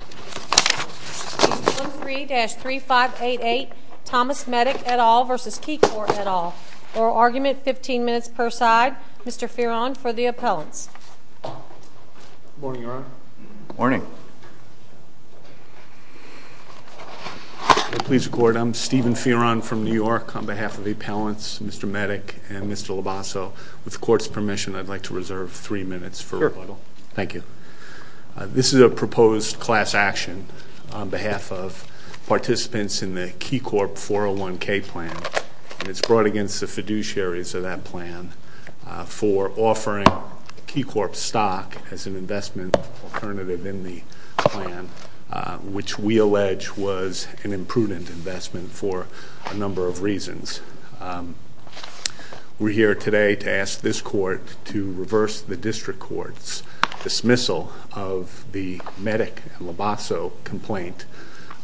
Case No. 3-3588, Thomas Metyk et al. v. KeyCorp et al. Oral argument, 15 minutes per side. Mr. Fearon for the appellants. Good morning, Your Honor. Good morning. Please record, I'm Stephen Fearon from New York on behalf of the appellants, Mr. Metyk and Mr. Labasso. With the court's permission, I'd like to reserve three minutes for rebuttal. Sure. Thank you. This is a proposed class action on behalf of participants in the KeyCorp 401k plan. It's brought against the fiduciaries of that plan for offering KeyCorp stock as an investment alternative in the plan, which we allege was an imprudent investment for a number of reasons. We're here today to ask this court to reverse the district court's dismissal of the Metyk and Labasso complaint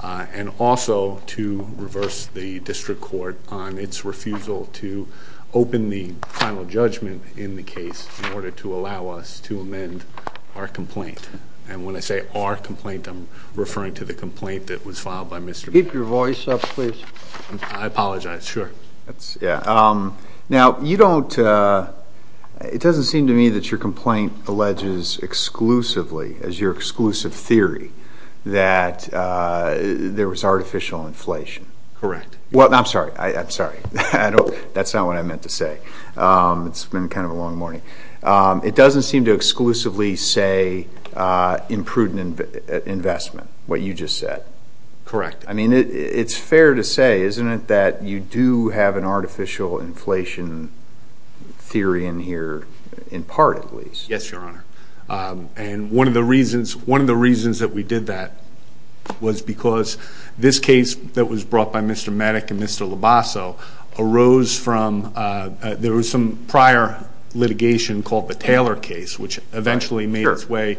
and also to reverse the district court on its refusal to open the final judgment in the case in order to allow us to amend our complaint. And when I say our complaint, I'm referring to the complaint that was filed by Mr. Metyk. Keep your voice up, please. I apologize. Sure. Now, it doesn't seem to me that your complaint alleges exclusively, as your exclusive theory, that there was artificial inflation. Correct. Well, I'm sorry. I'm sorry. That's not what I meant to say. It's been kind of a long morning. It doesn't seem to exclusively say imprudent investment, what you just said. Correct. I mean, it's fair to say, isn't it, that you do have an artificial inflation theory in here, in part, at least. Yes, Your Honor. And one of the reasons that we did that was because this case that was brought by Mr. Metyk and Mr. Labasso arose from – there was some prior litigation called the Taylor case, which eventually made its way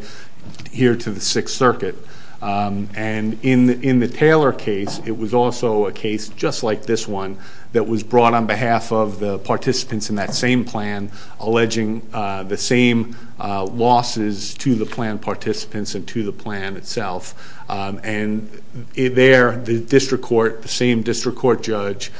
here to the Sixth Circuit. And in the Taylor case, it was also a case just like this one that was brought on behalf of the participants in that same plan, alleging the same losses to the plan participants and to the plan itself. And there, the district court, the same district court judge,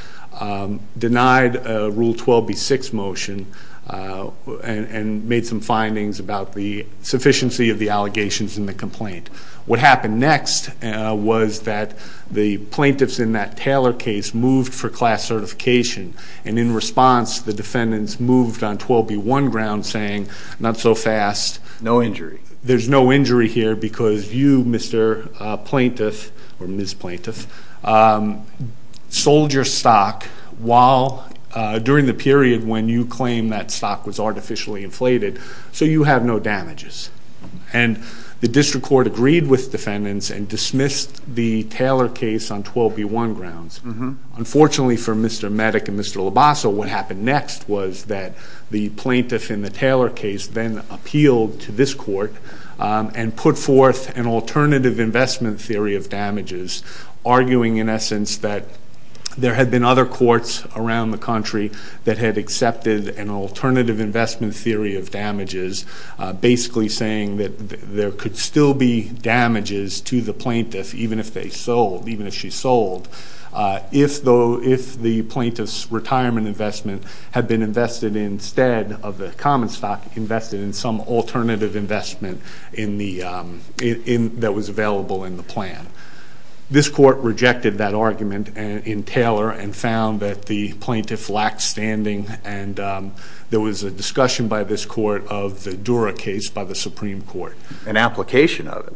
denied a Rule 12B6 motion and made some findings about the sufficiency of the allegations in the complaint. What happened next was that the plaintiffs in that Taylor case moved for class certification. And in response, the defendants moved on 12B1 ground, saying, not so fast. No injury. There's no injury here because you, Mr. Plaintiff, or Ms. Plaintiff, sold your stock during the period when you claimed that stock was artificially inflated, so you have no damages. And the district court agreed with defendants and dismissed the Taylor case on 12B1 grounds. Unfortunately for Mr. Metyk and Mr. Labasso, what happened next was that the plaintiff in the Taylor case then appealed to this court and put forth an alternative investment theory of damages, arguing in essence that there had been other courts around the country that had accepted an alternative investment theory of damages, basically saying that there could still be damages to the plaintiff, even if they sold, even if she sold, if the plaintiff's retirement investment had been invested instead of the common stock, invested in some alternative investment that was available in the plan. This court rejected that argument in Taylor and found that the plaintiff lacked standing, and there was a discussion by this court of the Dura case by the Supreme Court. An application of it.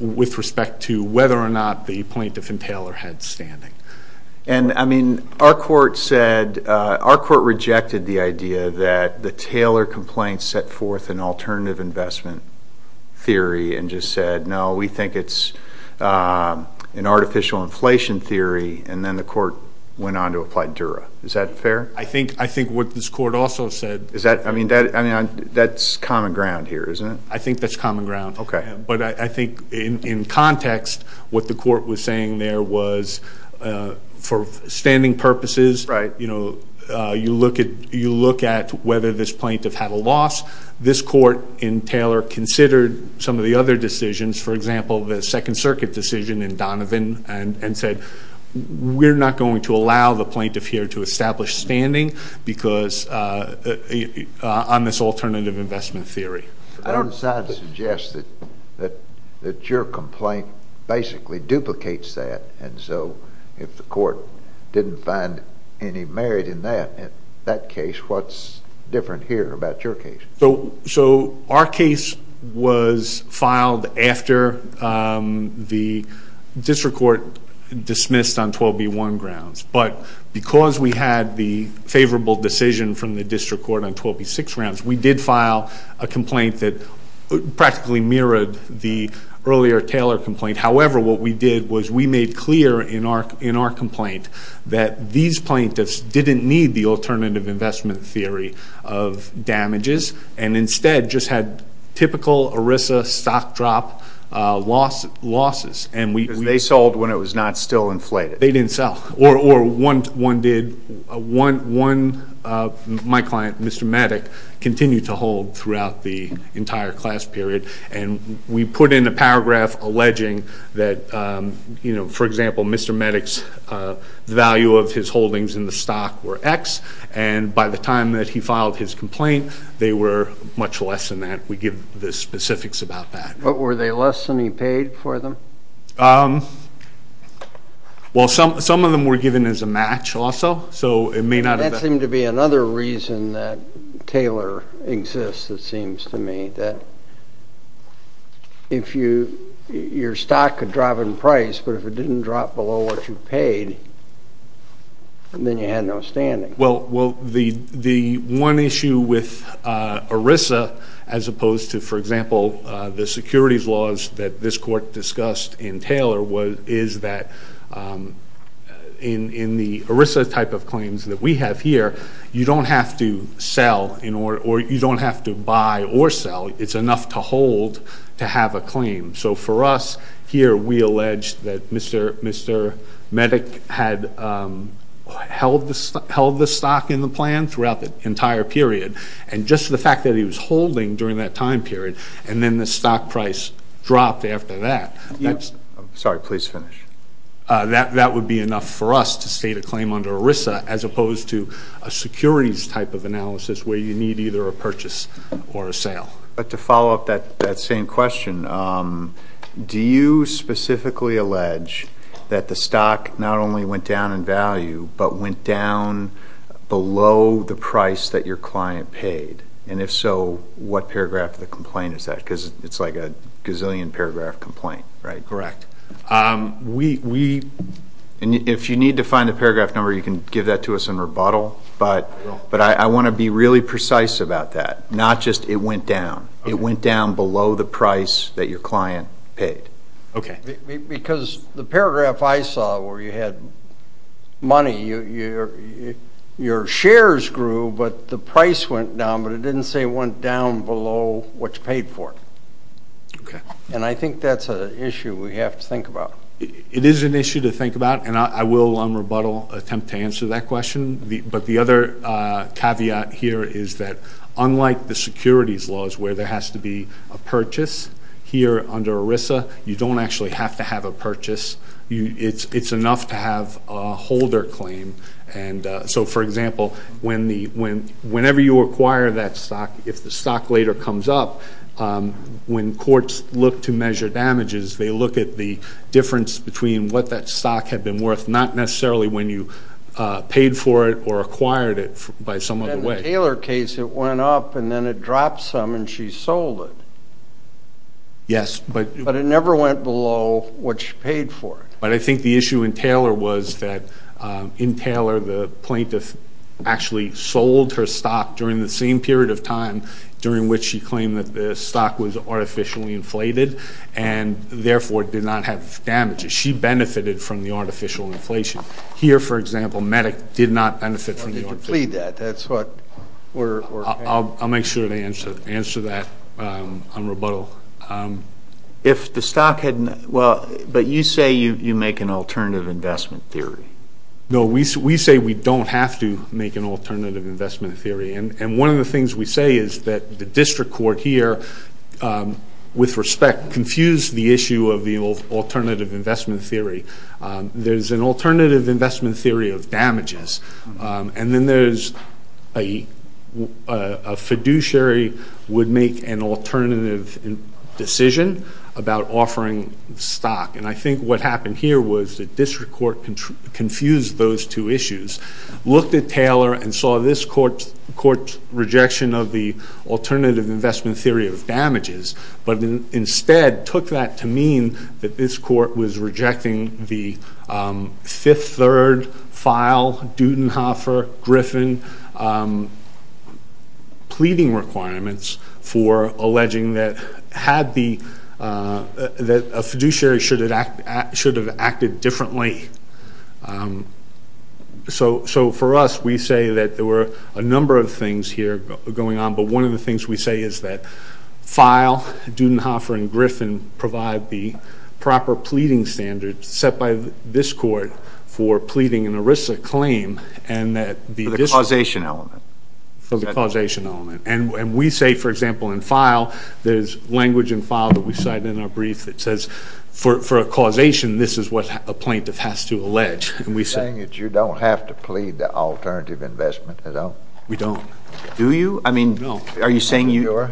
With respect to whether or not the plaintiff in Taylor had standing. And, I mean, our court said, our court rejected the idea that the Taylor complaint set forth an alternative investment theory and just said, no, we think it's an artificial inflation theory, and then the court went on to apply Dura. Is that fair? I think what this court also said. Is that, I mean, that's common ground here, isn't it? I think that's common ground. Okay. But I think in context what the court was saying there was for standing purposes. Right. You know, you look at whether this plaintiff had a loss. This court in Taylor considered some of the other decisions. For example, the Second Circuit decision in Donovan and said, we're not going to allow the plaintiff here to establish standing because on this alternative investment theory. I don't decide to suggest that your complaint basically duplicates that. And so if the court didn't find any merit in that case, what's different here about your case? So our case was filed after the district court dismissed on 12B1 grounds. But because we had the favorable decision from the district court on 12B6 grounds, we did file a complaint that practically mirrored the earlier Taylor complaint. However, what we did was we made clear in our complaint that these plaintiffs didn't need the alternative investment theory of damages and instead just had typical ERISA stock drop losses. Because they sold when it was not still inflated. They didn't sell. Or one did. One, my client, Mr. Mattick, continued to hold throughout the entire class period. And we put in a paragraph alleging that, you know, for example, Mr. Mattick's value of his holdings in the stock were X. And by the time that he filed his complaint, they were much less than that. We give the specifics about that. What were they less than he paid for them? Well, some of them were given as a match also. So it may not have been. That seemed to be another reason that Taylor exists, it seems to me, that if your stock could drop in price, but if it didn't drop below what you paid, then you had no standing. Well, the one issue with ERISA, as opposed to, for example, the securities laws that this court discussed in Taylor, is that in the ERISA type of claims that we have here, you don't have to sell or you don't have to buy or sell. It's enough to hold to have a claim. So for us here, we allege that Mr. Mattick had held the stock in the plan throughout the entire period. And just the fact that he was holding during that time period and then the stock price dropped after that. Sorry, please finish. That would be enough for us to state a claim under ERISA as opposed to a securities type of analysis where you need either a purchase or a sale. But to follow up that same question, do you specifically allege that the stock not only went down in value, but went down below the price that your client paid? And if so, what paragraph of the complaint is that? Because it's like a gazillion-paragraph complaint, right? Correct. If you need to find the paragraph number, you can give that to us in rebuttal, but I want to be really precise about that. Not just it went down. It went down below the price that your client paid. Okay. Because the paragraph I saw where you had money, your shares grew, but the price went down, but it didn't say it went down below what you paid for it. Okay. And I think that's an issue we have to think about. It is an issue to think about, and I will, on rebuttal, attempt to answer that question. But the other caveat here is that unlike the securities laws where there has to be a purchase, here under ERISA you don't actually have to have a purchase. It's enough to have a holder claim. And so, for example, whenever you acquire that stock, if the stock later comes up, when courts look to measure damages, they look at the difference between what that stock had been worth, not necessarily when you paid for it or acquired it by some other way. In the Taylor case, it went up and then it dropped some and she sold it. Yes. But it never went below what she paid for it. But I think the issue in Taylor was that in Taylor the plaintiff actually sold her stock during the same period of time during which she claimed that the stock was artificially inflated and therefore did not have damages. She benefited from the artificial inflation. Here, for example, MEDIC did not benefit from the artificial inflation. Why did you plead that? I'll make sure to answer that on rebuttal. But you say you make an alternative investment theory. No, we say we don't have to make an alternative investment theory. And one of the things we say is that the district court here, with respect, confused the issue of the alternative investment theory. There's an alternative investment theory of damages, and then there's a fiduciary would make an alternative decision about offering stock. And I think what happened here was the district court confused those two issues, looked at Taylor and saw this court's rejection of the alternative investment theory of damages, but instead took that to mean that this court was rejecting the Fifth Third file, Dutenhofer, Griffin, pleading requirements for alleging that a fiduciary should have acted differently. So for us, we say that there were a number of things here going on, but one of the things we say is that file, Dutenhofer, and Griffin provide the proper pleading standards set by this court for pleading an ERISA claim. For the causation element. For the causation element. And we say, for example, in file, there's language in file that we cite in our brief that says, for a causation, this is what a plaintiff has to allege. You're saying that you don't have to plead the alternative investment at all? We don't. Do you? No. Are you saying you are?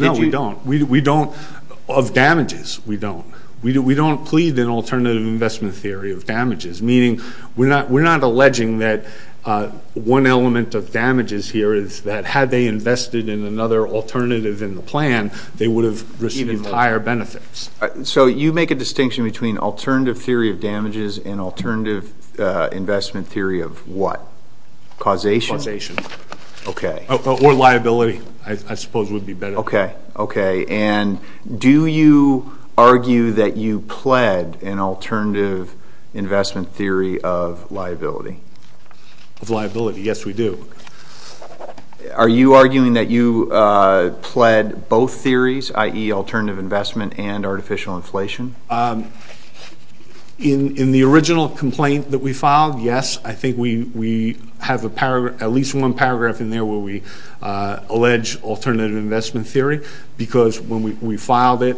No, we don't. Of damages, we don't. We don't plead an alternative investment theory of damages, meaning we're not alleging that one element of damages here is that had they invested in another alternative in the plan, they would have received higher benefits. So you make a distinction between alternative theory of damages and alternative investment theory of what? Causation. Causation. Okay. Or liability, I suppose would be better. Okay. Okay. And do you argue that you pled an alternative investment theory of liability? Of liability, yes, we do. Are you arguing that you pled both theories, i.e., alternative investment and artificial inflation? In the original complaint that we filed, yes, I think we have at least one paragraph in there where we allege alternative investment theory because when we filed it,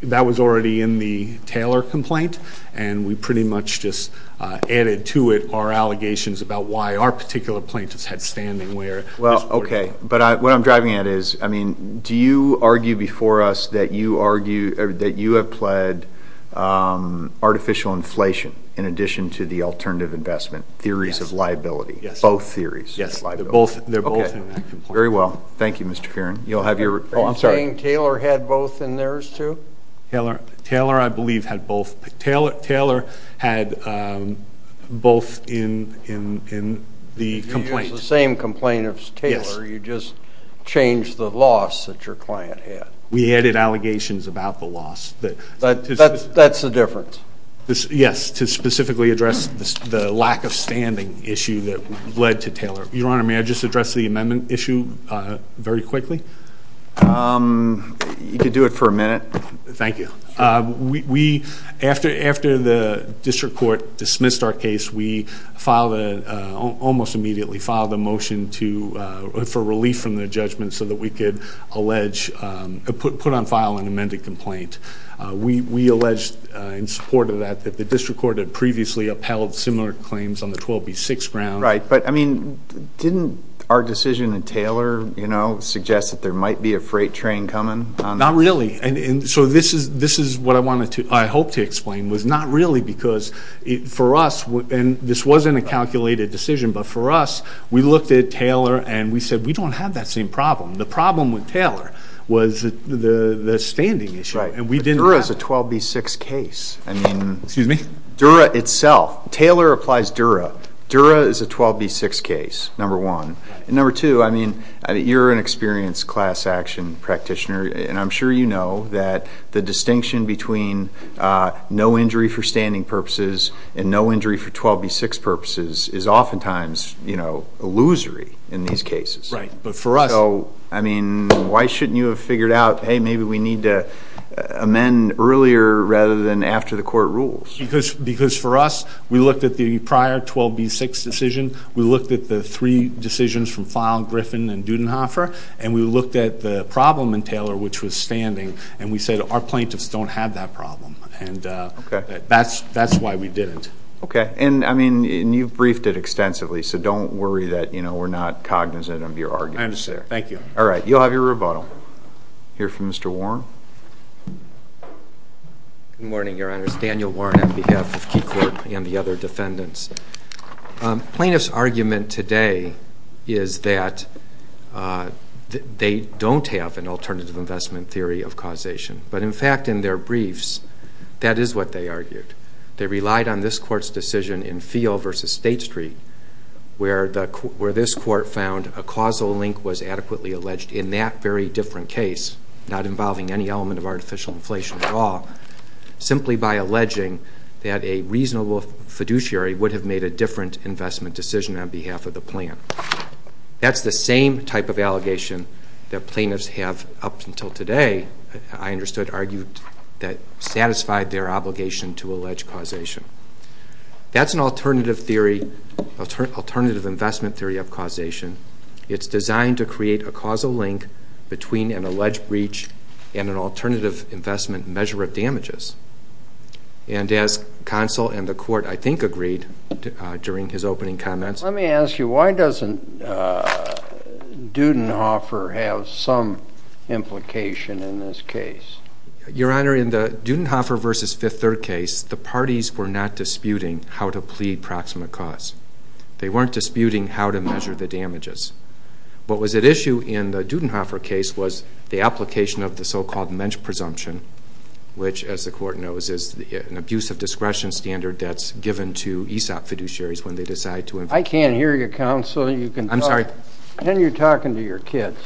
that was already in the Taylor complaint, and we pretty much just added to it our allegations about why our particular plaintiffs had standing where. Well, okay. But what I'm driving at is, I mean, do you argue before us that you have pled artificial inflation in addition to the alternative investment theories of liability? Yes. Both theories? Yes, they're both in that complaint. Okay. Very well. Thank you, Mr. Fearon. Are you saying Taylor had both in theirs, too? Taylor, I believe, had both. Taylor had both in the complaint. It was the same complaint as Taylor, you just changed the loss that your client had. We added allegations about the loss. That's the difference? Yes, to specifically address the lack of standing issue that led to Taylor. Your Honor, may I just address the amendment issue very quickly? You could do it for a minute. Thank you. After the district court dismissed our case, we almost immediately filed a motion for relief from the judgment so that we could put on file an amended complaint. We alleged in support of that that the district court had previously upheld similar claims on the 12B6 ground. Right. But, I mean, didn't our decision in Taylor suggest that there might be a freight train coming? Not really. So this is what I hope to explain, was not really because for us, and this wasn't a calculated decision, but for us, we looked at Taylor and we said we don't have that same problem. The problem with Taylor was the standing issue. Dura is a 12B6 case. Excuse me? Dura itself. Taylor applies Dura. Dura is a 12B6 case, number one. Number two, I mean, you're an experienced class action practitioner, and I'm sure you know that the distinction between no injury for standing purposes and no injury for 12B6 purposes is oftentimes, you know, illusory in these cases. Right, but for us. So, I mean, why shouldn't you have figured out, hey, maybe we need to amend earlier rather than after the court rules? Because for us, we looked at the prior 12B6 decision. We looked at the three decisions from file, Griffin and Dudenhofer, and we looked at the problem in Taylor, which was standing, and we said our plaintiffs don't have that problem, and that's why we didn't. Okay. And, I mean, you've briefed it extensively, so don't worry that, you know, we're not cognizant of your arguments there. I understand. Thank you. All right. You'll have your rebuttal. Hear from Mr. Warren. Good morning, Your Honors. Daniel Warren on behalf of Key Court and the other defendants. Plaintiffs' argument today is that they don't have an alternative investment theory of causation. But, in fact, in their briefs, that is what they argued. They relied on this court's decision in Feele v. State Street, where this court found a causal link was adequately alleged in that very different case, not involving any element of artificial inflation at all, simply by alleging that a reasonable fiduciary would have made a different investment decision on behalf of the plaintiff. That's the same type of allegation that plaintiffs have, up until today, I understood, argued that satisfied their obligation to allege causation. That's an alternative investment theory of causation. It's designed to create a causal link between an alleged breach and an alternative investment measure of damages. And as counsel and the court, I think, agreed during his opening comments. Let me ask you, why doesn't Dudenhofer have some implication in this case? Your Honor, in the Dudenhofer v. Fifth Third case, the parties were not disputing how to plead proximate cause. They weren't disputing how to measure the damages. What was at issue in the Dudenhofer case was the application of the so-called mensch presumption, which, as the court knows, is an abuse of discretion standard that's given to ESOP fiduciaries when they decide to invest. I can't hear you, counsel. I'm sorry. Then you're talking to your kids.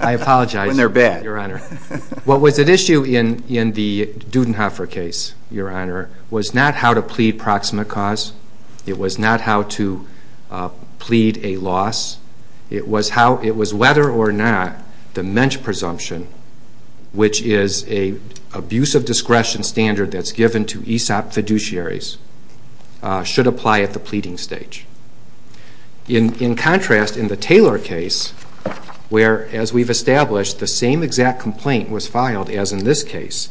I apologize. When they're bad. What was at issue in the Dudenhofer case, Your Honor, was not how to plead proximate cause. It was not how to plead a loss. It was whether or not the mensch presumption, which is an abuse of discretion standard that's given to ESOP fiduciaries, should apply at the pleading stage. In contrast, in the Taylor case, where, as we've established, the same exact complaint was filed as in this case,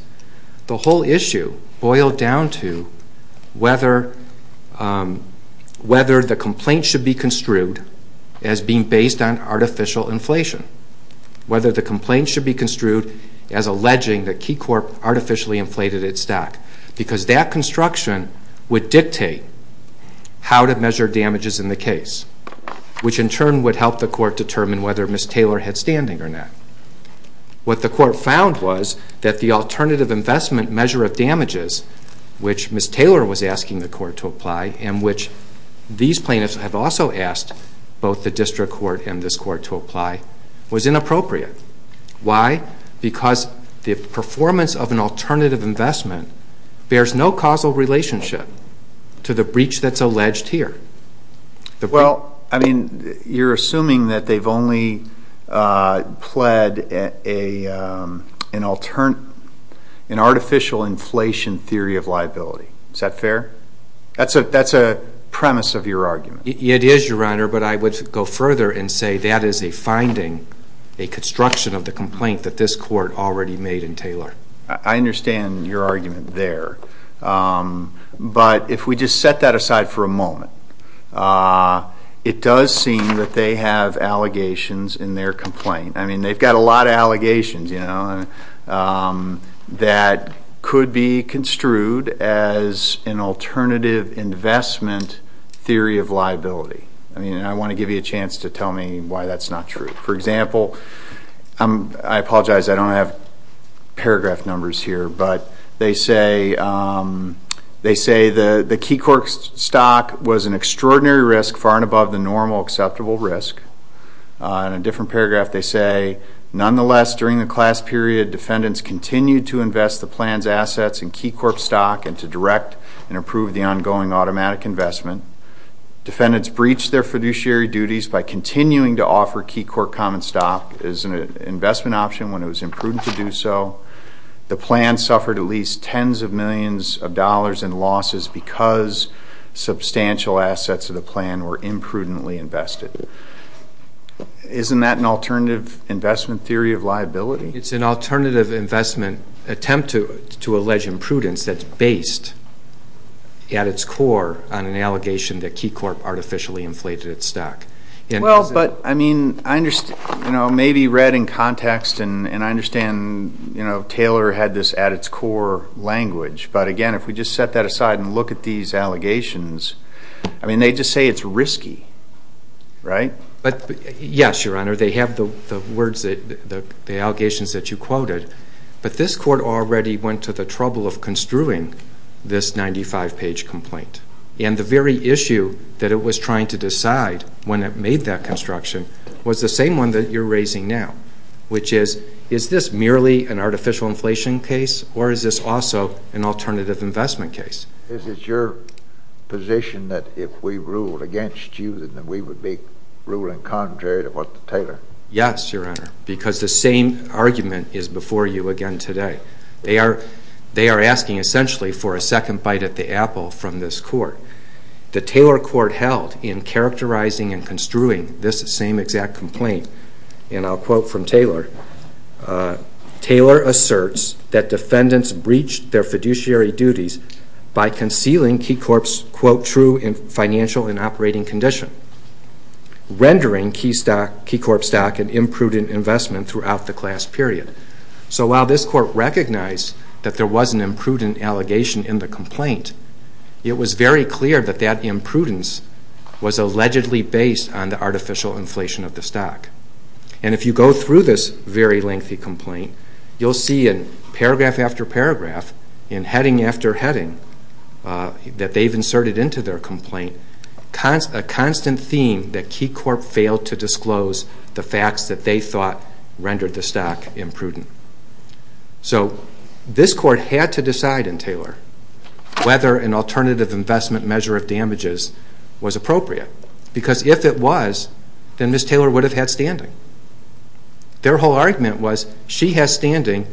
the whole issue boiled down to whether the complaint should be construed as being based on artificial inflation, whether the complaint should be construed as alleging that Keycorp artificially inflated its stock, because that construction would dictate how to measure damages in the case, which in turn would help the court determine whether Ms. Taylor had standing or not. What the court found was that the alternative investment measure of damages, which Ms. Taylor was asking the court to apply and which these plaintiffs have also asked both the district court and this court to apply, was inappropriate. Why? Because the performance of an alternative investment bears no causal relationship to the breach that's alleged here. Well, I mean, you're assuming that they've only pled an artificial inflation theory of liability. Is that fair? That's a premise of your argument. It is, Your Honor, but I would go further and say that is a finding, a construction of the complaint that this court already made in Taylor. I understand your argument there, but if we just set that aside for a moment, it does seem that they have allegations in their complaint. I mean, they've got a lot of allegations that could be construed as an alternative investment theory of liability. I mean, I want to give you a chance to tell me why that's not true. For example, I apologize, I don't have paragraph numbers here, but they say the Keycorp stock was an extraordinary risk far and above the normal acceptable risk. In a different paragraph, they say, nonetheless, during the class period, defendants continued to invest the plan's assets in Keycorp stock and to direct and approve the ongoing automatic investment. Defendants breached their fiduciary duties by continuing to offer Keycorp common stock as an investment option when it was imprudent to do so. The plan suffered at least tens of millions of dollars in losses because substantial assets of the plan were imprudently invested. Isn't that an alternative investment theory of liability? It's an alternative investment attempt to allege imprudence that's based at its core on an allegation that Keycorp artificially inflated its stock. Well, but, I mean, I understand, you know, maybe read in context and I understand, you know, Taylor had this at its core language, but again, if we just set that aside and look at these allegations, I mean, they just say it's risky, right? Yes, Your Honor, they have the words, the allegations that you quoted, but this Court already went to the trouble of construing this 95-page complaint and the very issue that it was trying to decide when it made that construction was the same one that you're raising now, which is, is this merely an artificial inflation case or is this also an alternative investment case? Is it your position that if we ruled against you that we would be ruling contrary to what Taylor? Yes, Your Honor, because the same argument is before you again today. They are asking essentially for a second bite at the apple from this Court. The Taylor Court held in characterizing and construing this same exact complaint, and I'll quote from Taylor, Taylor asserts that defendants breached their fiduciary duties by concealing Keycorp's, quote, true financial and operating condition, rendering Keycorp stock an imprudent investment throughout the class period. So while this Court recognized that there was an imprudent allegation in the complaint, it was very clear that that imprudence was allegedly based on the artificial inflation of the stock. And if you go through this very lengthy complaint, you'll see in paragraph after paragraph, in heading after heading that they've inserted into their complaint, a constant theme that Keycorp failed to disclose the facts that they thought rendered the stock imprudent. So this Court had to decide in Taylor whether an alternative investment measure of damages was appropriate. Because if it was, then Ms. Taylor would have had standing. Their whole argument was she has standing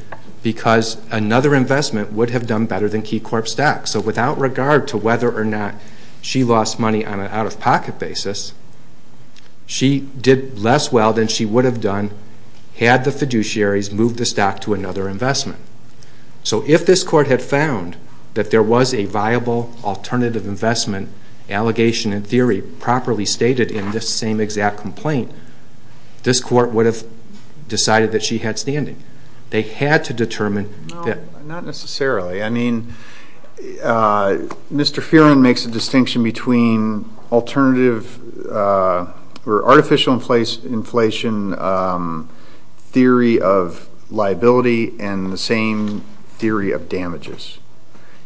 because another investment would have done better than Keycorp stock. So without regard to whether or not she lost money on an out-of-pocket basis, she did less well than she would have done had the fiduciaries moved the stock to another investment. So if this Court had found that there was a viable alternative investment, allegation in theory properly stated in this same exact complaint, this Court would have decided that she had standing. They had to determine that. Not necessarily. I mean, Mr. Fearon makes a distinction between alternative or artificial inflation theory of liability and the same theory of damages.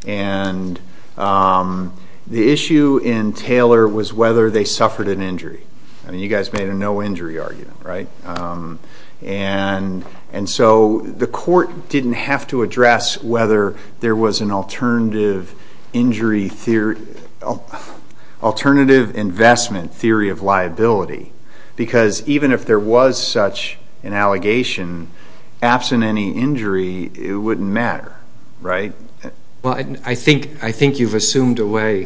And the issue in Taylor was whether they suffered an injury. I mean, you guys made a no-injury argument, right? And so the Court didn't have to address whether there was an alternative investment theory of liability. Because even if there was such an allegation, absent any injury, it wouldn't matter, right? Well, I think you've assumed away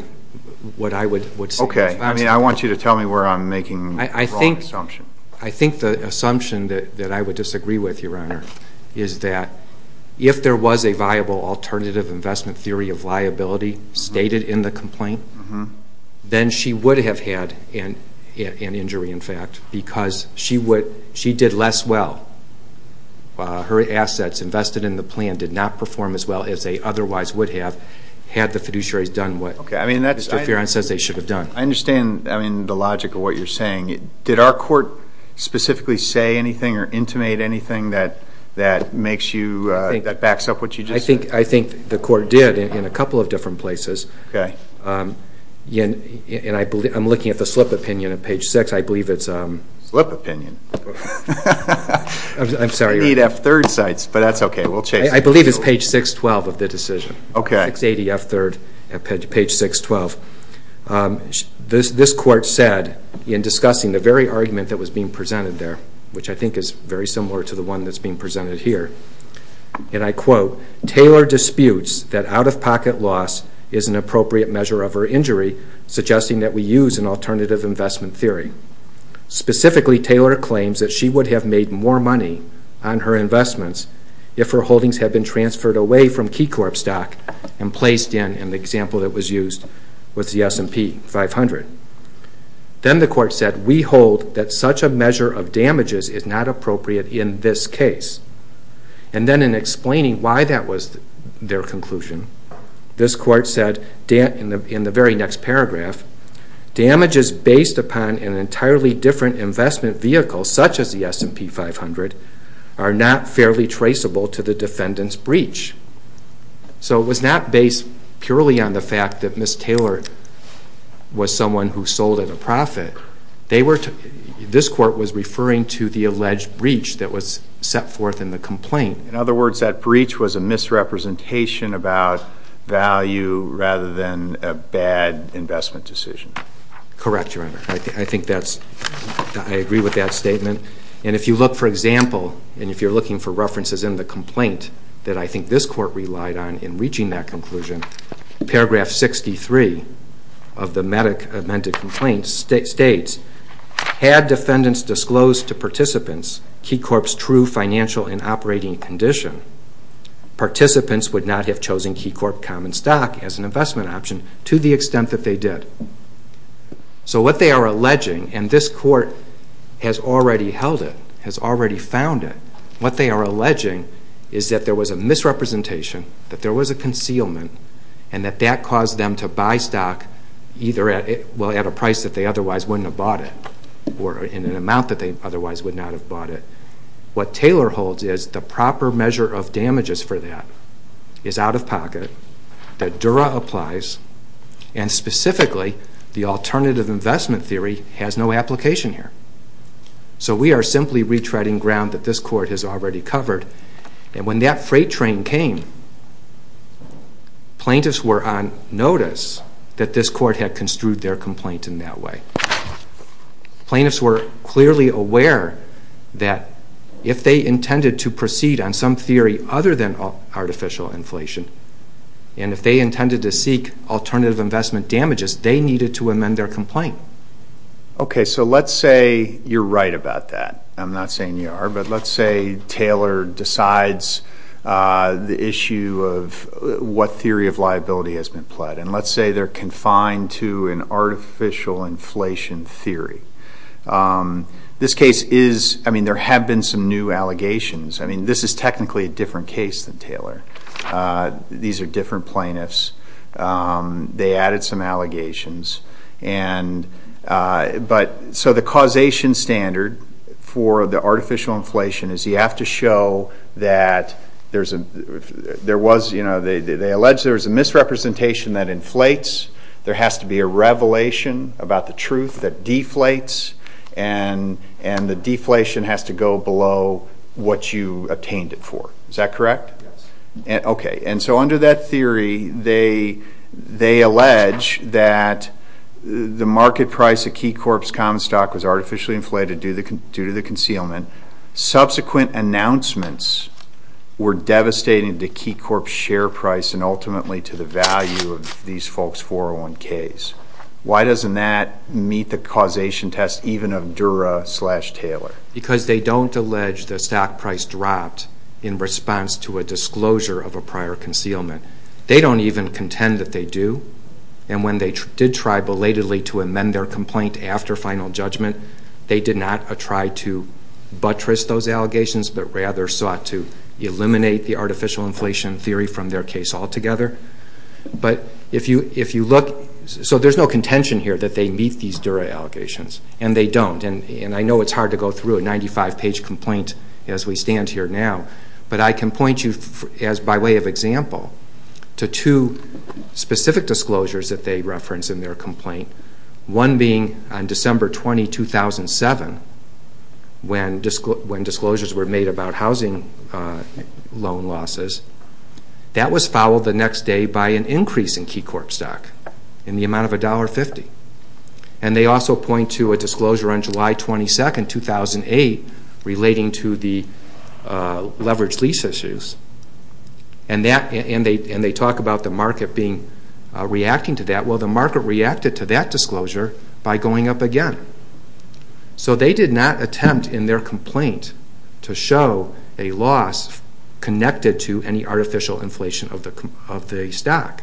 what I would say. Okay. I mean, I want you to tell me where I'm making the wrong assumption. I think the assumption that I would disagree with, Your Honor, is that if there was a viable alternative investment theory of liability stated in the complaint, then she would have had an injury, in fact, because she did less well. Her assets invested in the plan did not perform as well as they otherwise would have had the fiduciaries done what Mr. Fearon says they should have done. I understand the logic of what you're saying. Did our Court specifically say anything or intimate anything that backs up what you just said? I think the Court did in a couple of different places. Okay. And I'm looking at the slip opinion at page 6. Slip opinion? I'm sorry. I need F-3rd sites, but that's okay. I believe it's page 612 of the decision. Okay. 680 F-3rd at page 612. This Court said in discussing the very argument that was being presented there, which I think is very similar to the one that's being presented here, and I quote, Taylor disputes that out-of-pocket loss is an appropriate measure of her injury, suggesting that we use an alternative investment theory. Specifically, Taylor claims that she would have made more money on her investments if her holdings had been transferred away from Key Corp stock and placed in, in the example that was used, with the S&P 500. Then the Court said, We hold that such a measure of damages is not appropriate in this case. And then in explaining why that was their conclusion, this Court said in the very next paragraph, Damages based upon an entirely different investment vehicle, such as the S&P 500, are not fairly traceable to the defendant's breach. So it was not based purely on the fact that Ms. Taylor was someone who sold at a profit. They were, this Court was referring to the alleged breach that was set forth in the complaint. In other words, that breach was a misrepresentation about value rather than a bad investment decision. Correct, Your Honor. I think that's, I agree with that statement. And if you look, for example, and if you're looking for references in the complaint that I think this Court relied on in reaching that conclusion, paragraph 63 of the amended complaint states, Had defendants disclosed to participants Key Corp's true financial and operating condition, participants would not have chosen Key Corp common stock as an investment option to the extent that they did. So what they are alleging, and this Court has already held it, has already found it, what they are alleging is that there was a misrepresentation, that there was a concealment, and that that caused them to buy stock either at a price that they otherwise wouldn't have bought it or in an amount that they otherwise would not have bought it. What Taylor holds is the proper measure of damages for that is out of pocket, that Dura applies, and specifically the alternative investment theory has no application here. So we are simply retreading ground that this Court has already covered. And when that freight train came, plaintiffs were on notice that this Court had construed their complaint in that way. Plaintiffs were clearly aware that if they intended to proceed on some theory other than artificial inflation, and if they intended to seek alternative investment damages, they needed to amend their complaint. Okay, so let's say you're right about that. I'm not saying you are, but let's say Taylor decides the issue of what theory of liability has been pled, and let's say they're confined to an artificial inflation theory. This case is, I mean, there have been some new allegations. I mean, this is technically a different case than Taylor. These are different plaintiffs. They added some allegations. But so the causation standard for the artificial inflation is you have to show that there was a misrepresentation that inflates. There has to be a revelation about the truth that deflates, and the deflation has to go below what you obtained it for. Is that correct? Yes. Okay, and so under that theory, they allege that the market price of Key Corp's common stock was artificially inflated due to the concealment. Subsequent announcements were devastating to Key Corp's share price and ultimately to the value of these folks' 401ks. Why doesn't that meet the causation test even of Dura-Taylor? Because they don't allege the stock price dropped in response to a disclosure of a prior concealment. They don't even contend that they do. And when they did try belatedly to amend their complaint after final judgment, they did not try to buttress those allegations, but rather sought to eliminate the artificial inflation theory from their case altogether. But if you look, so there's no contention here that they meet these Dura allegations, and they don't. And I know it's hard to go through a 95-page complaint as we stand here now, but I can point you, by way of example, to two specific disclosures that they reference in their complaint, one being on December 20, 2007, when disclosures were made about housing loan losses. That was followed the next day by an increase in Key Corp stock in the amount of $1.50. And they also point to a disclosure on July 22, 2008, relating to the leveraged lease issues, and they talk about the market reacting to that. Well, the market reacted to that disclosure by going up again. So they did not attempt in their complaint to show a loss connected to any artificial inflation of the stock.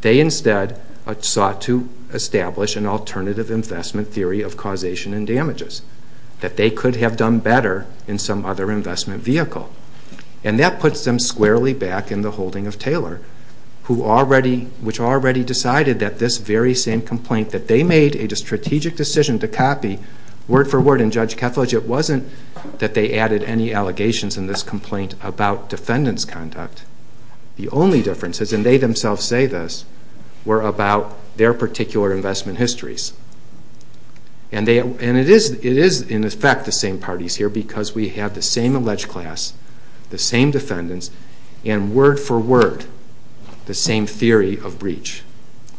They instead sought to establish an alternative investment theory of causation and damages that they could have done better in some other investment vehicle. And that puts them squarely back in the holding of Taylor, which already decided that this very same complaint that they made a strategic decision to copy word for word in Judge Kethledge, it wasn't that they added any allegations in this complaint about defendant's conduct. The only differences, and they themselves say this, were about their particular investment histories. And it is, in effect, the same parties here because we have the same alleged class, the same defendants, and word for word, the same theory of breach.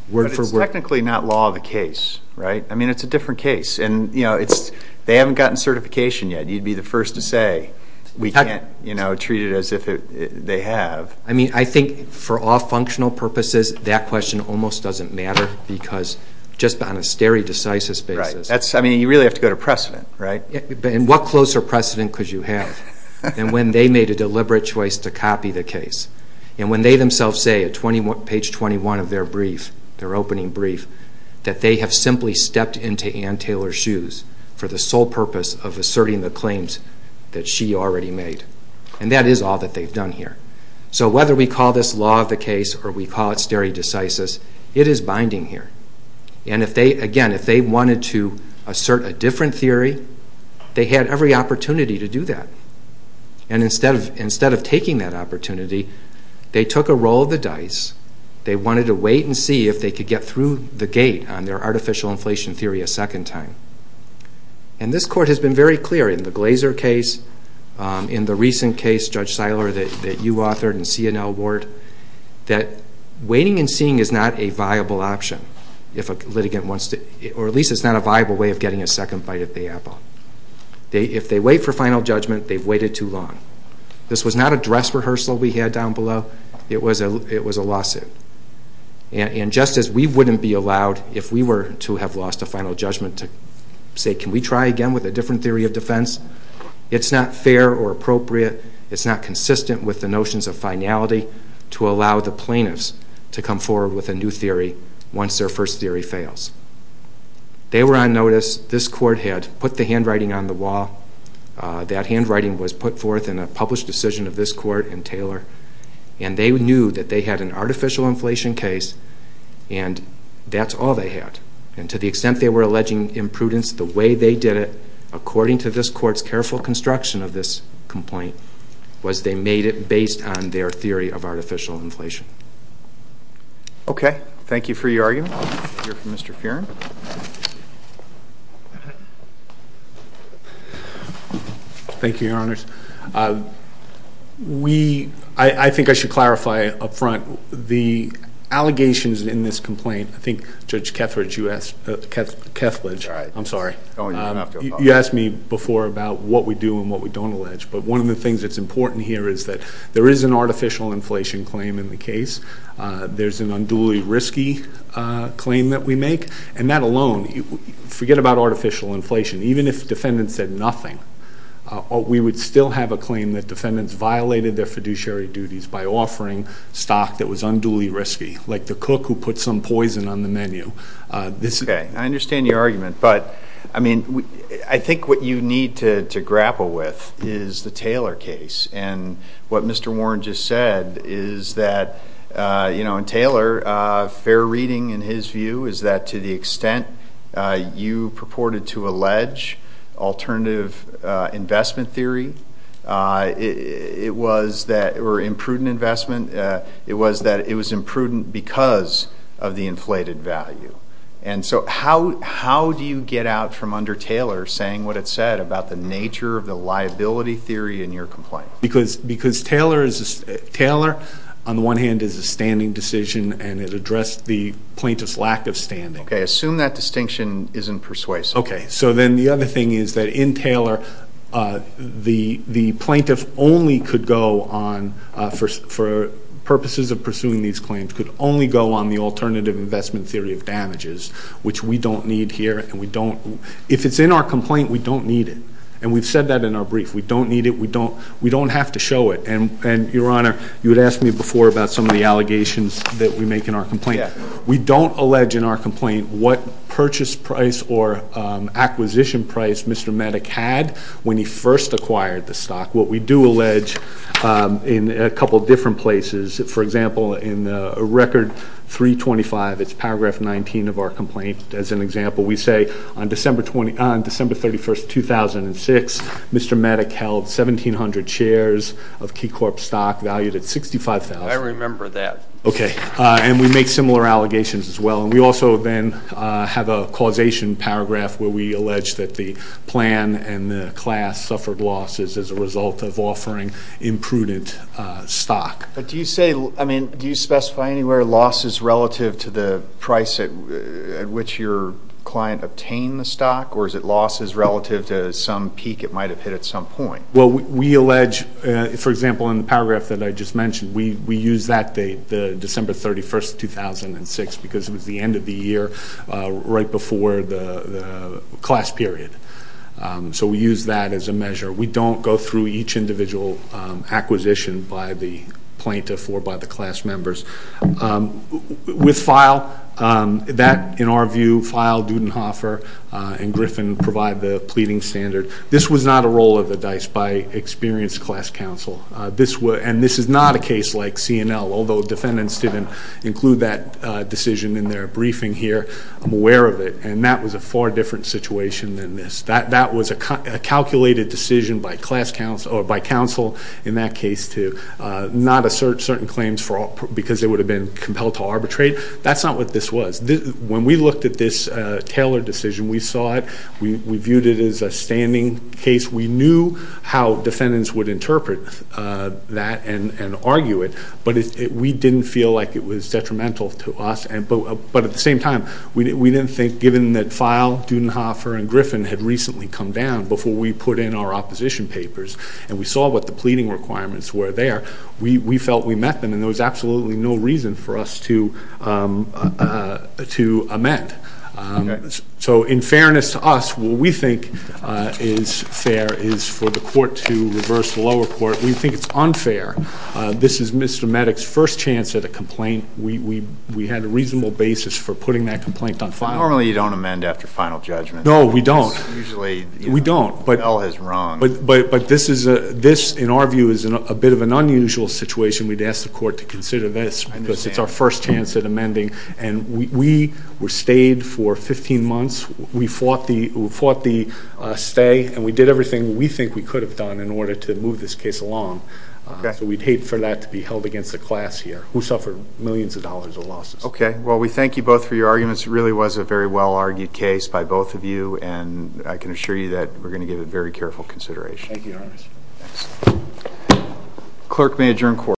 Word for word. But it's technically not law of the case, right? I mean, it's a different case. They haven't gotten certification yet. You'd be the first to say we can't treat it as if they have. I mean, I think for all functional purposes, that question almost doesn't matter because just on a stare decisis basis. I mean, you really have to go to precedent, right? And what closer precedent could you have than when they made a deliberate choice to copy the case? And when they themselves say at page 21 of their brief, their opening brief, that they have simply stepped into Ann Taylor's shoes for the sole purpose of asserting the claims that she already made. And that is all that they've done here. So whether we call this law of the case or we call it stare decisis, it is binding here. And again, if they wanted to assert a different theory, they had every opportunity to do that. And instead of taking that opportunity, they took a roll of the dice. They wanted to wait and see if they could get through the gate on their artificial inflation theory a second time. And this court has been very clear in the Glazer case, in the recent case, Judge Seiler, that you authored in C&L Ward, that waiting and seeing is not a viable option if a litigant wants to... or at least it's not a viable way of getting a second bite at the apple. If they wait for final judgment, they've waited too long. This was not a dress rehearsal we had down below. It was a lawsuit. And just as we wouldn't be allowed, if we were to have lost a final judgment, to say, can we try again with a different theory of defense? It's not fair or appropriate. It's not consistent with the notions of finality to allow the plaintiffs to come forward with a new theory once their first theory fails. They were on notice. This court had put the handwriting on the wall. That handwriting was put forth in a published decision of this court and Taylor. And they knew that they had an artificial inflation case, and that's all they had. And to the extent they were alleging imprudence the way they did it, according to this court's careful construction of this complaint, was they made it based on their theory of artificial inflation. Okay. Thank you for your argument. We'll hear from Mr. Fearon. Thank you, Your Honors. We... I think I should clarify up front the allegations in this complaint. I think Judge Kethledge, you asked... Kethledge, I'm sorry. You asked me before about what we do and what we don't allege. But one of the things that's important here is that there is an artificial inflation claim in the case. There's an unduly risky claim that we make. And that alone, forget about artificial inflation, even if defendants said nothing, we would still have a claim that defendants violated their fiduciary duties by offering stock that was unduly risky, like the cook who put some poison on the menu. Okay. I understand your argument. But, I mean, I think what you need to grapple with is the Taylor case. And what Mr. Warren just said is that, you know, in Taylor, fair reading in his view is that to the extent you purported to allege alternative investment theory, it was that... or imprudent investment, it was that it was imprudent because of the inflated value. And so how do you get out from under Taylor saying what it said about the nature of the liability theory in your complaint? Because Taylor, on the one hand, is a standing decision and it addressed the plaintiff's lack of standing. Okay. Assume that distinction isn't persuasive. Okay. So then the other thing is that in Taylor, the plaintiff only could go on, for purposes of pursuing these claims, could only go on the alternative investment theory of damages, which we don't need here. If it's in our complaint, we don't need it. And we've said that in our brief. We don't need it. We don't have to show it. And, Your Honor, you had asked me before about some of the allegations that we make in our complaint. We don't allege in our complaint what purchase price or acquisition price Mr. Maddock had when he first acquired the stock. What we do allege in a couple of different places, for example, in Record 325, it's Paragraph 19 of our complaint, as an example, we say, on December 31, 2006, Mr. Maddock held 1,700 shares of Key Corp. stock, valued at $65,000. I remember that. Okay. And we make similar allegations as well. We also then have a causation paragraph where we allege that the plan and the class suffered losses as a result of offering imprudent stock. But do you say, I mean, do you specify anywhere losses relative to the price at which your client obtained the stock, or is it losses relative to some peak it might have hit at some point? Well, we allege, for example, in the paragraph that I just mentioned, we use that date, December 31, 2006, because it was the end of the year right before the class period. So we use that as a measure. We don't go through each individual acquisition by the plaintiff or by the class members. With FILE, that, in our view, FILE, Dudenhofer, and Griffin provide the pleading standard. This was not a roll of the dice by experienced class counsel, and this is not a case like C&L, although defendants didn't include that decision in their briefing here. I'm aware of it, and that was a far different situation than this. That was a calculated decision by class counsel, or by counsel in that case, to not assert certain claims because they would have been compelled to arbitrate. That's not what this was. When we looked at this Taylor decision, we saw it. We viewed it as a standing case. We knew how defendants would interpret that and argue it, but we didn't feel like it was detrimental to us. But at the same time, we didn't think, given that FILE, Dudenhofer, and Griffin had recently come down before we put in our opposition papers and we saw what the pleading requirements were there, we felt we met them, and there was absolutely no reason for us to amend. So in fairness to us, what we think is fair is for the court to reverse the lower court. We think it's unfair. This is Mr. Maddox's first chance at a complaint. We had a reasonable basis for putting that complaint on FILE. Normally you don't amend after final judgment. No, we don't. Usually the bell has rung. But this, in our view, is a bit of an unusual situation. We'd ask the court to consider this because it's our first chance at amending. We stayed for 15 months. We fought the stay, and we did everything we think we could have done in order to move this case along. So we'd hate for that to be held against the class here, who suffered millions of dollars of losses. Okay. Well, we thank you both for your arguments. It really was a very well-argued case by both of you, and I can assure you that we're going to give it very careful consideration. Thank you, Your Honor. Thanks. Clerk may adjourn court.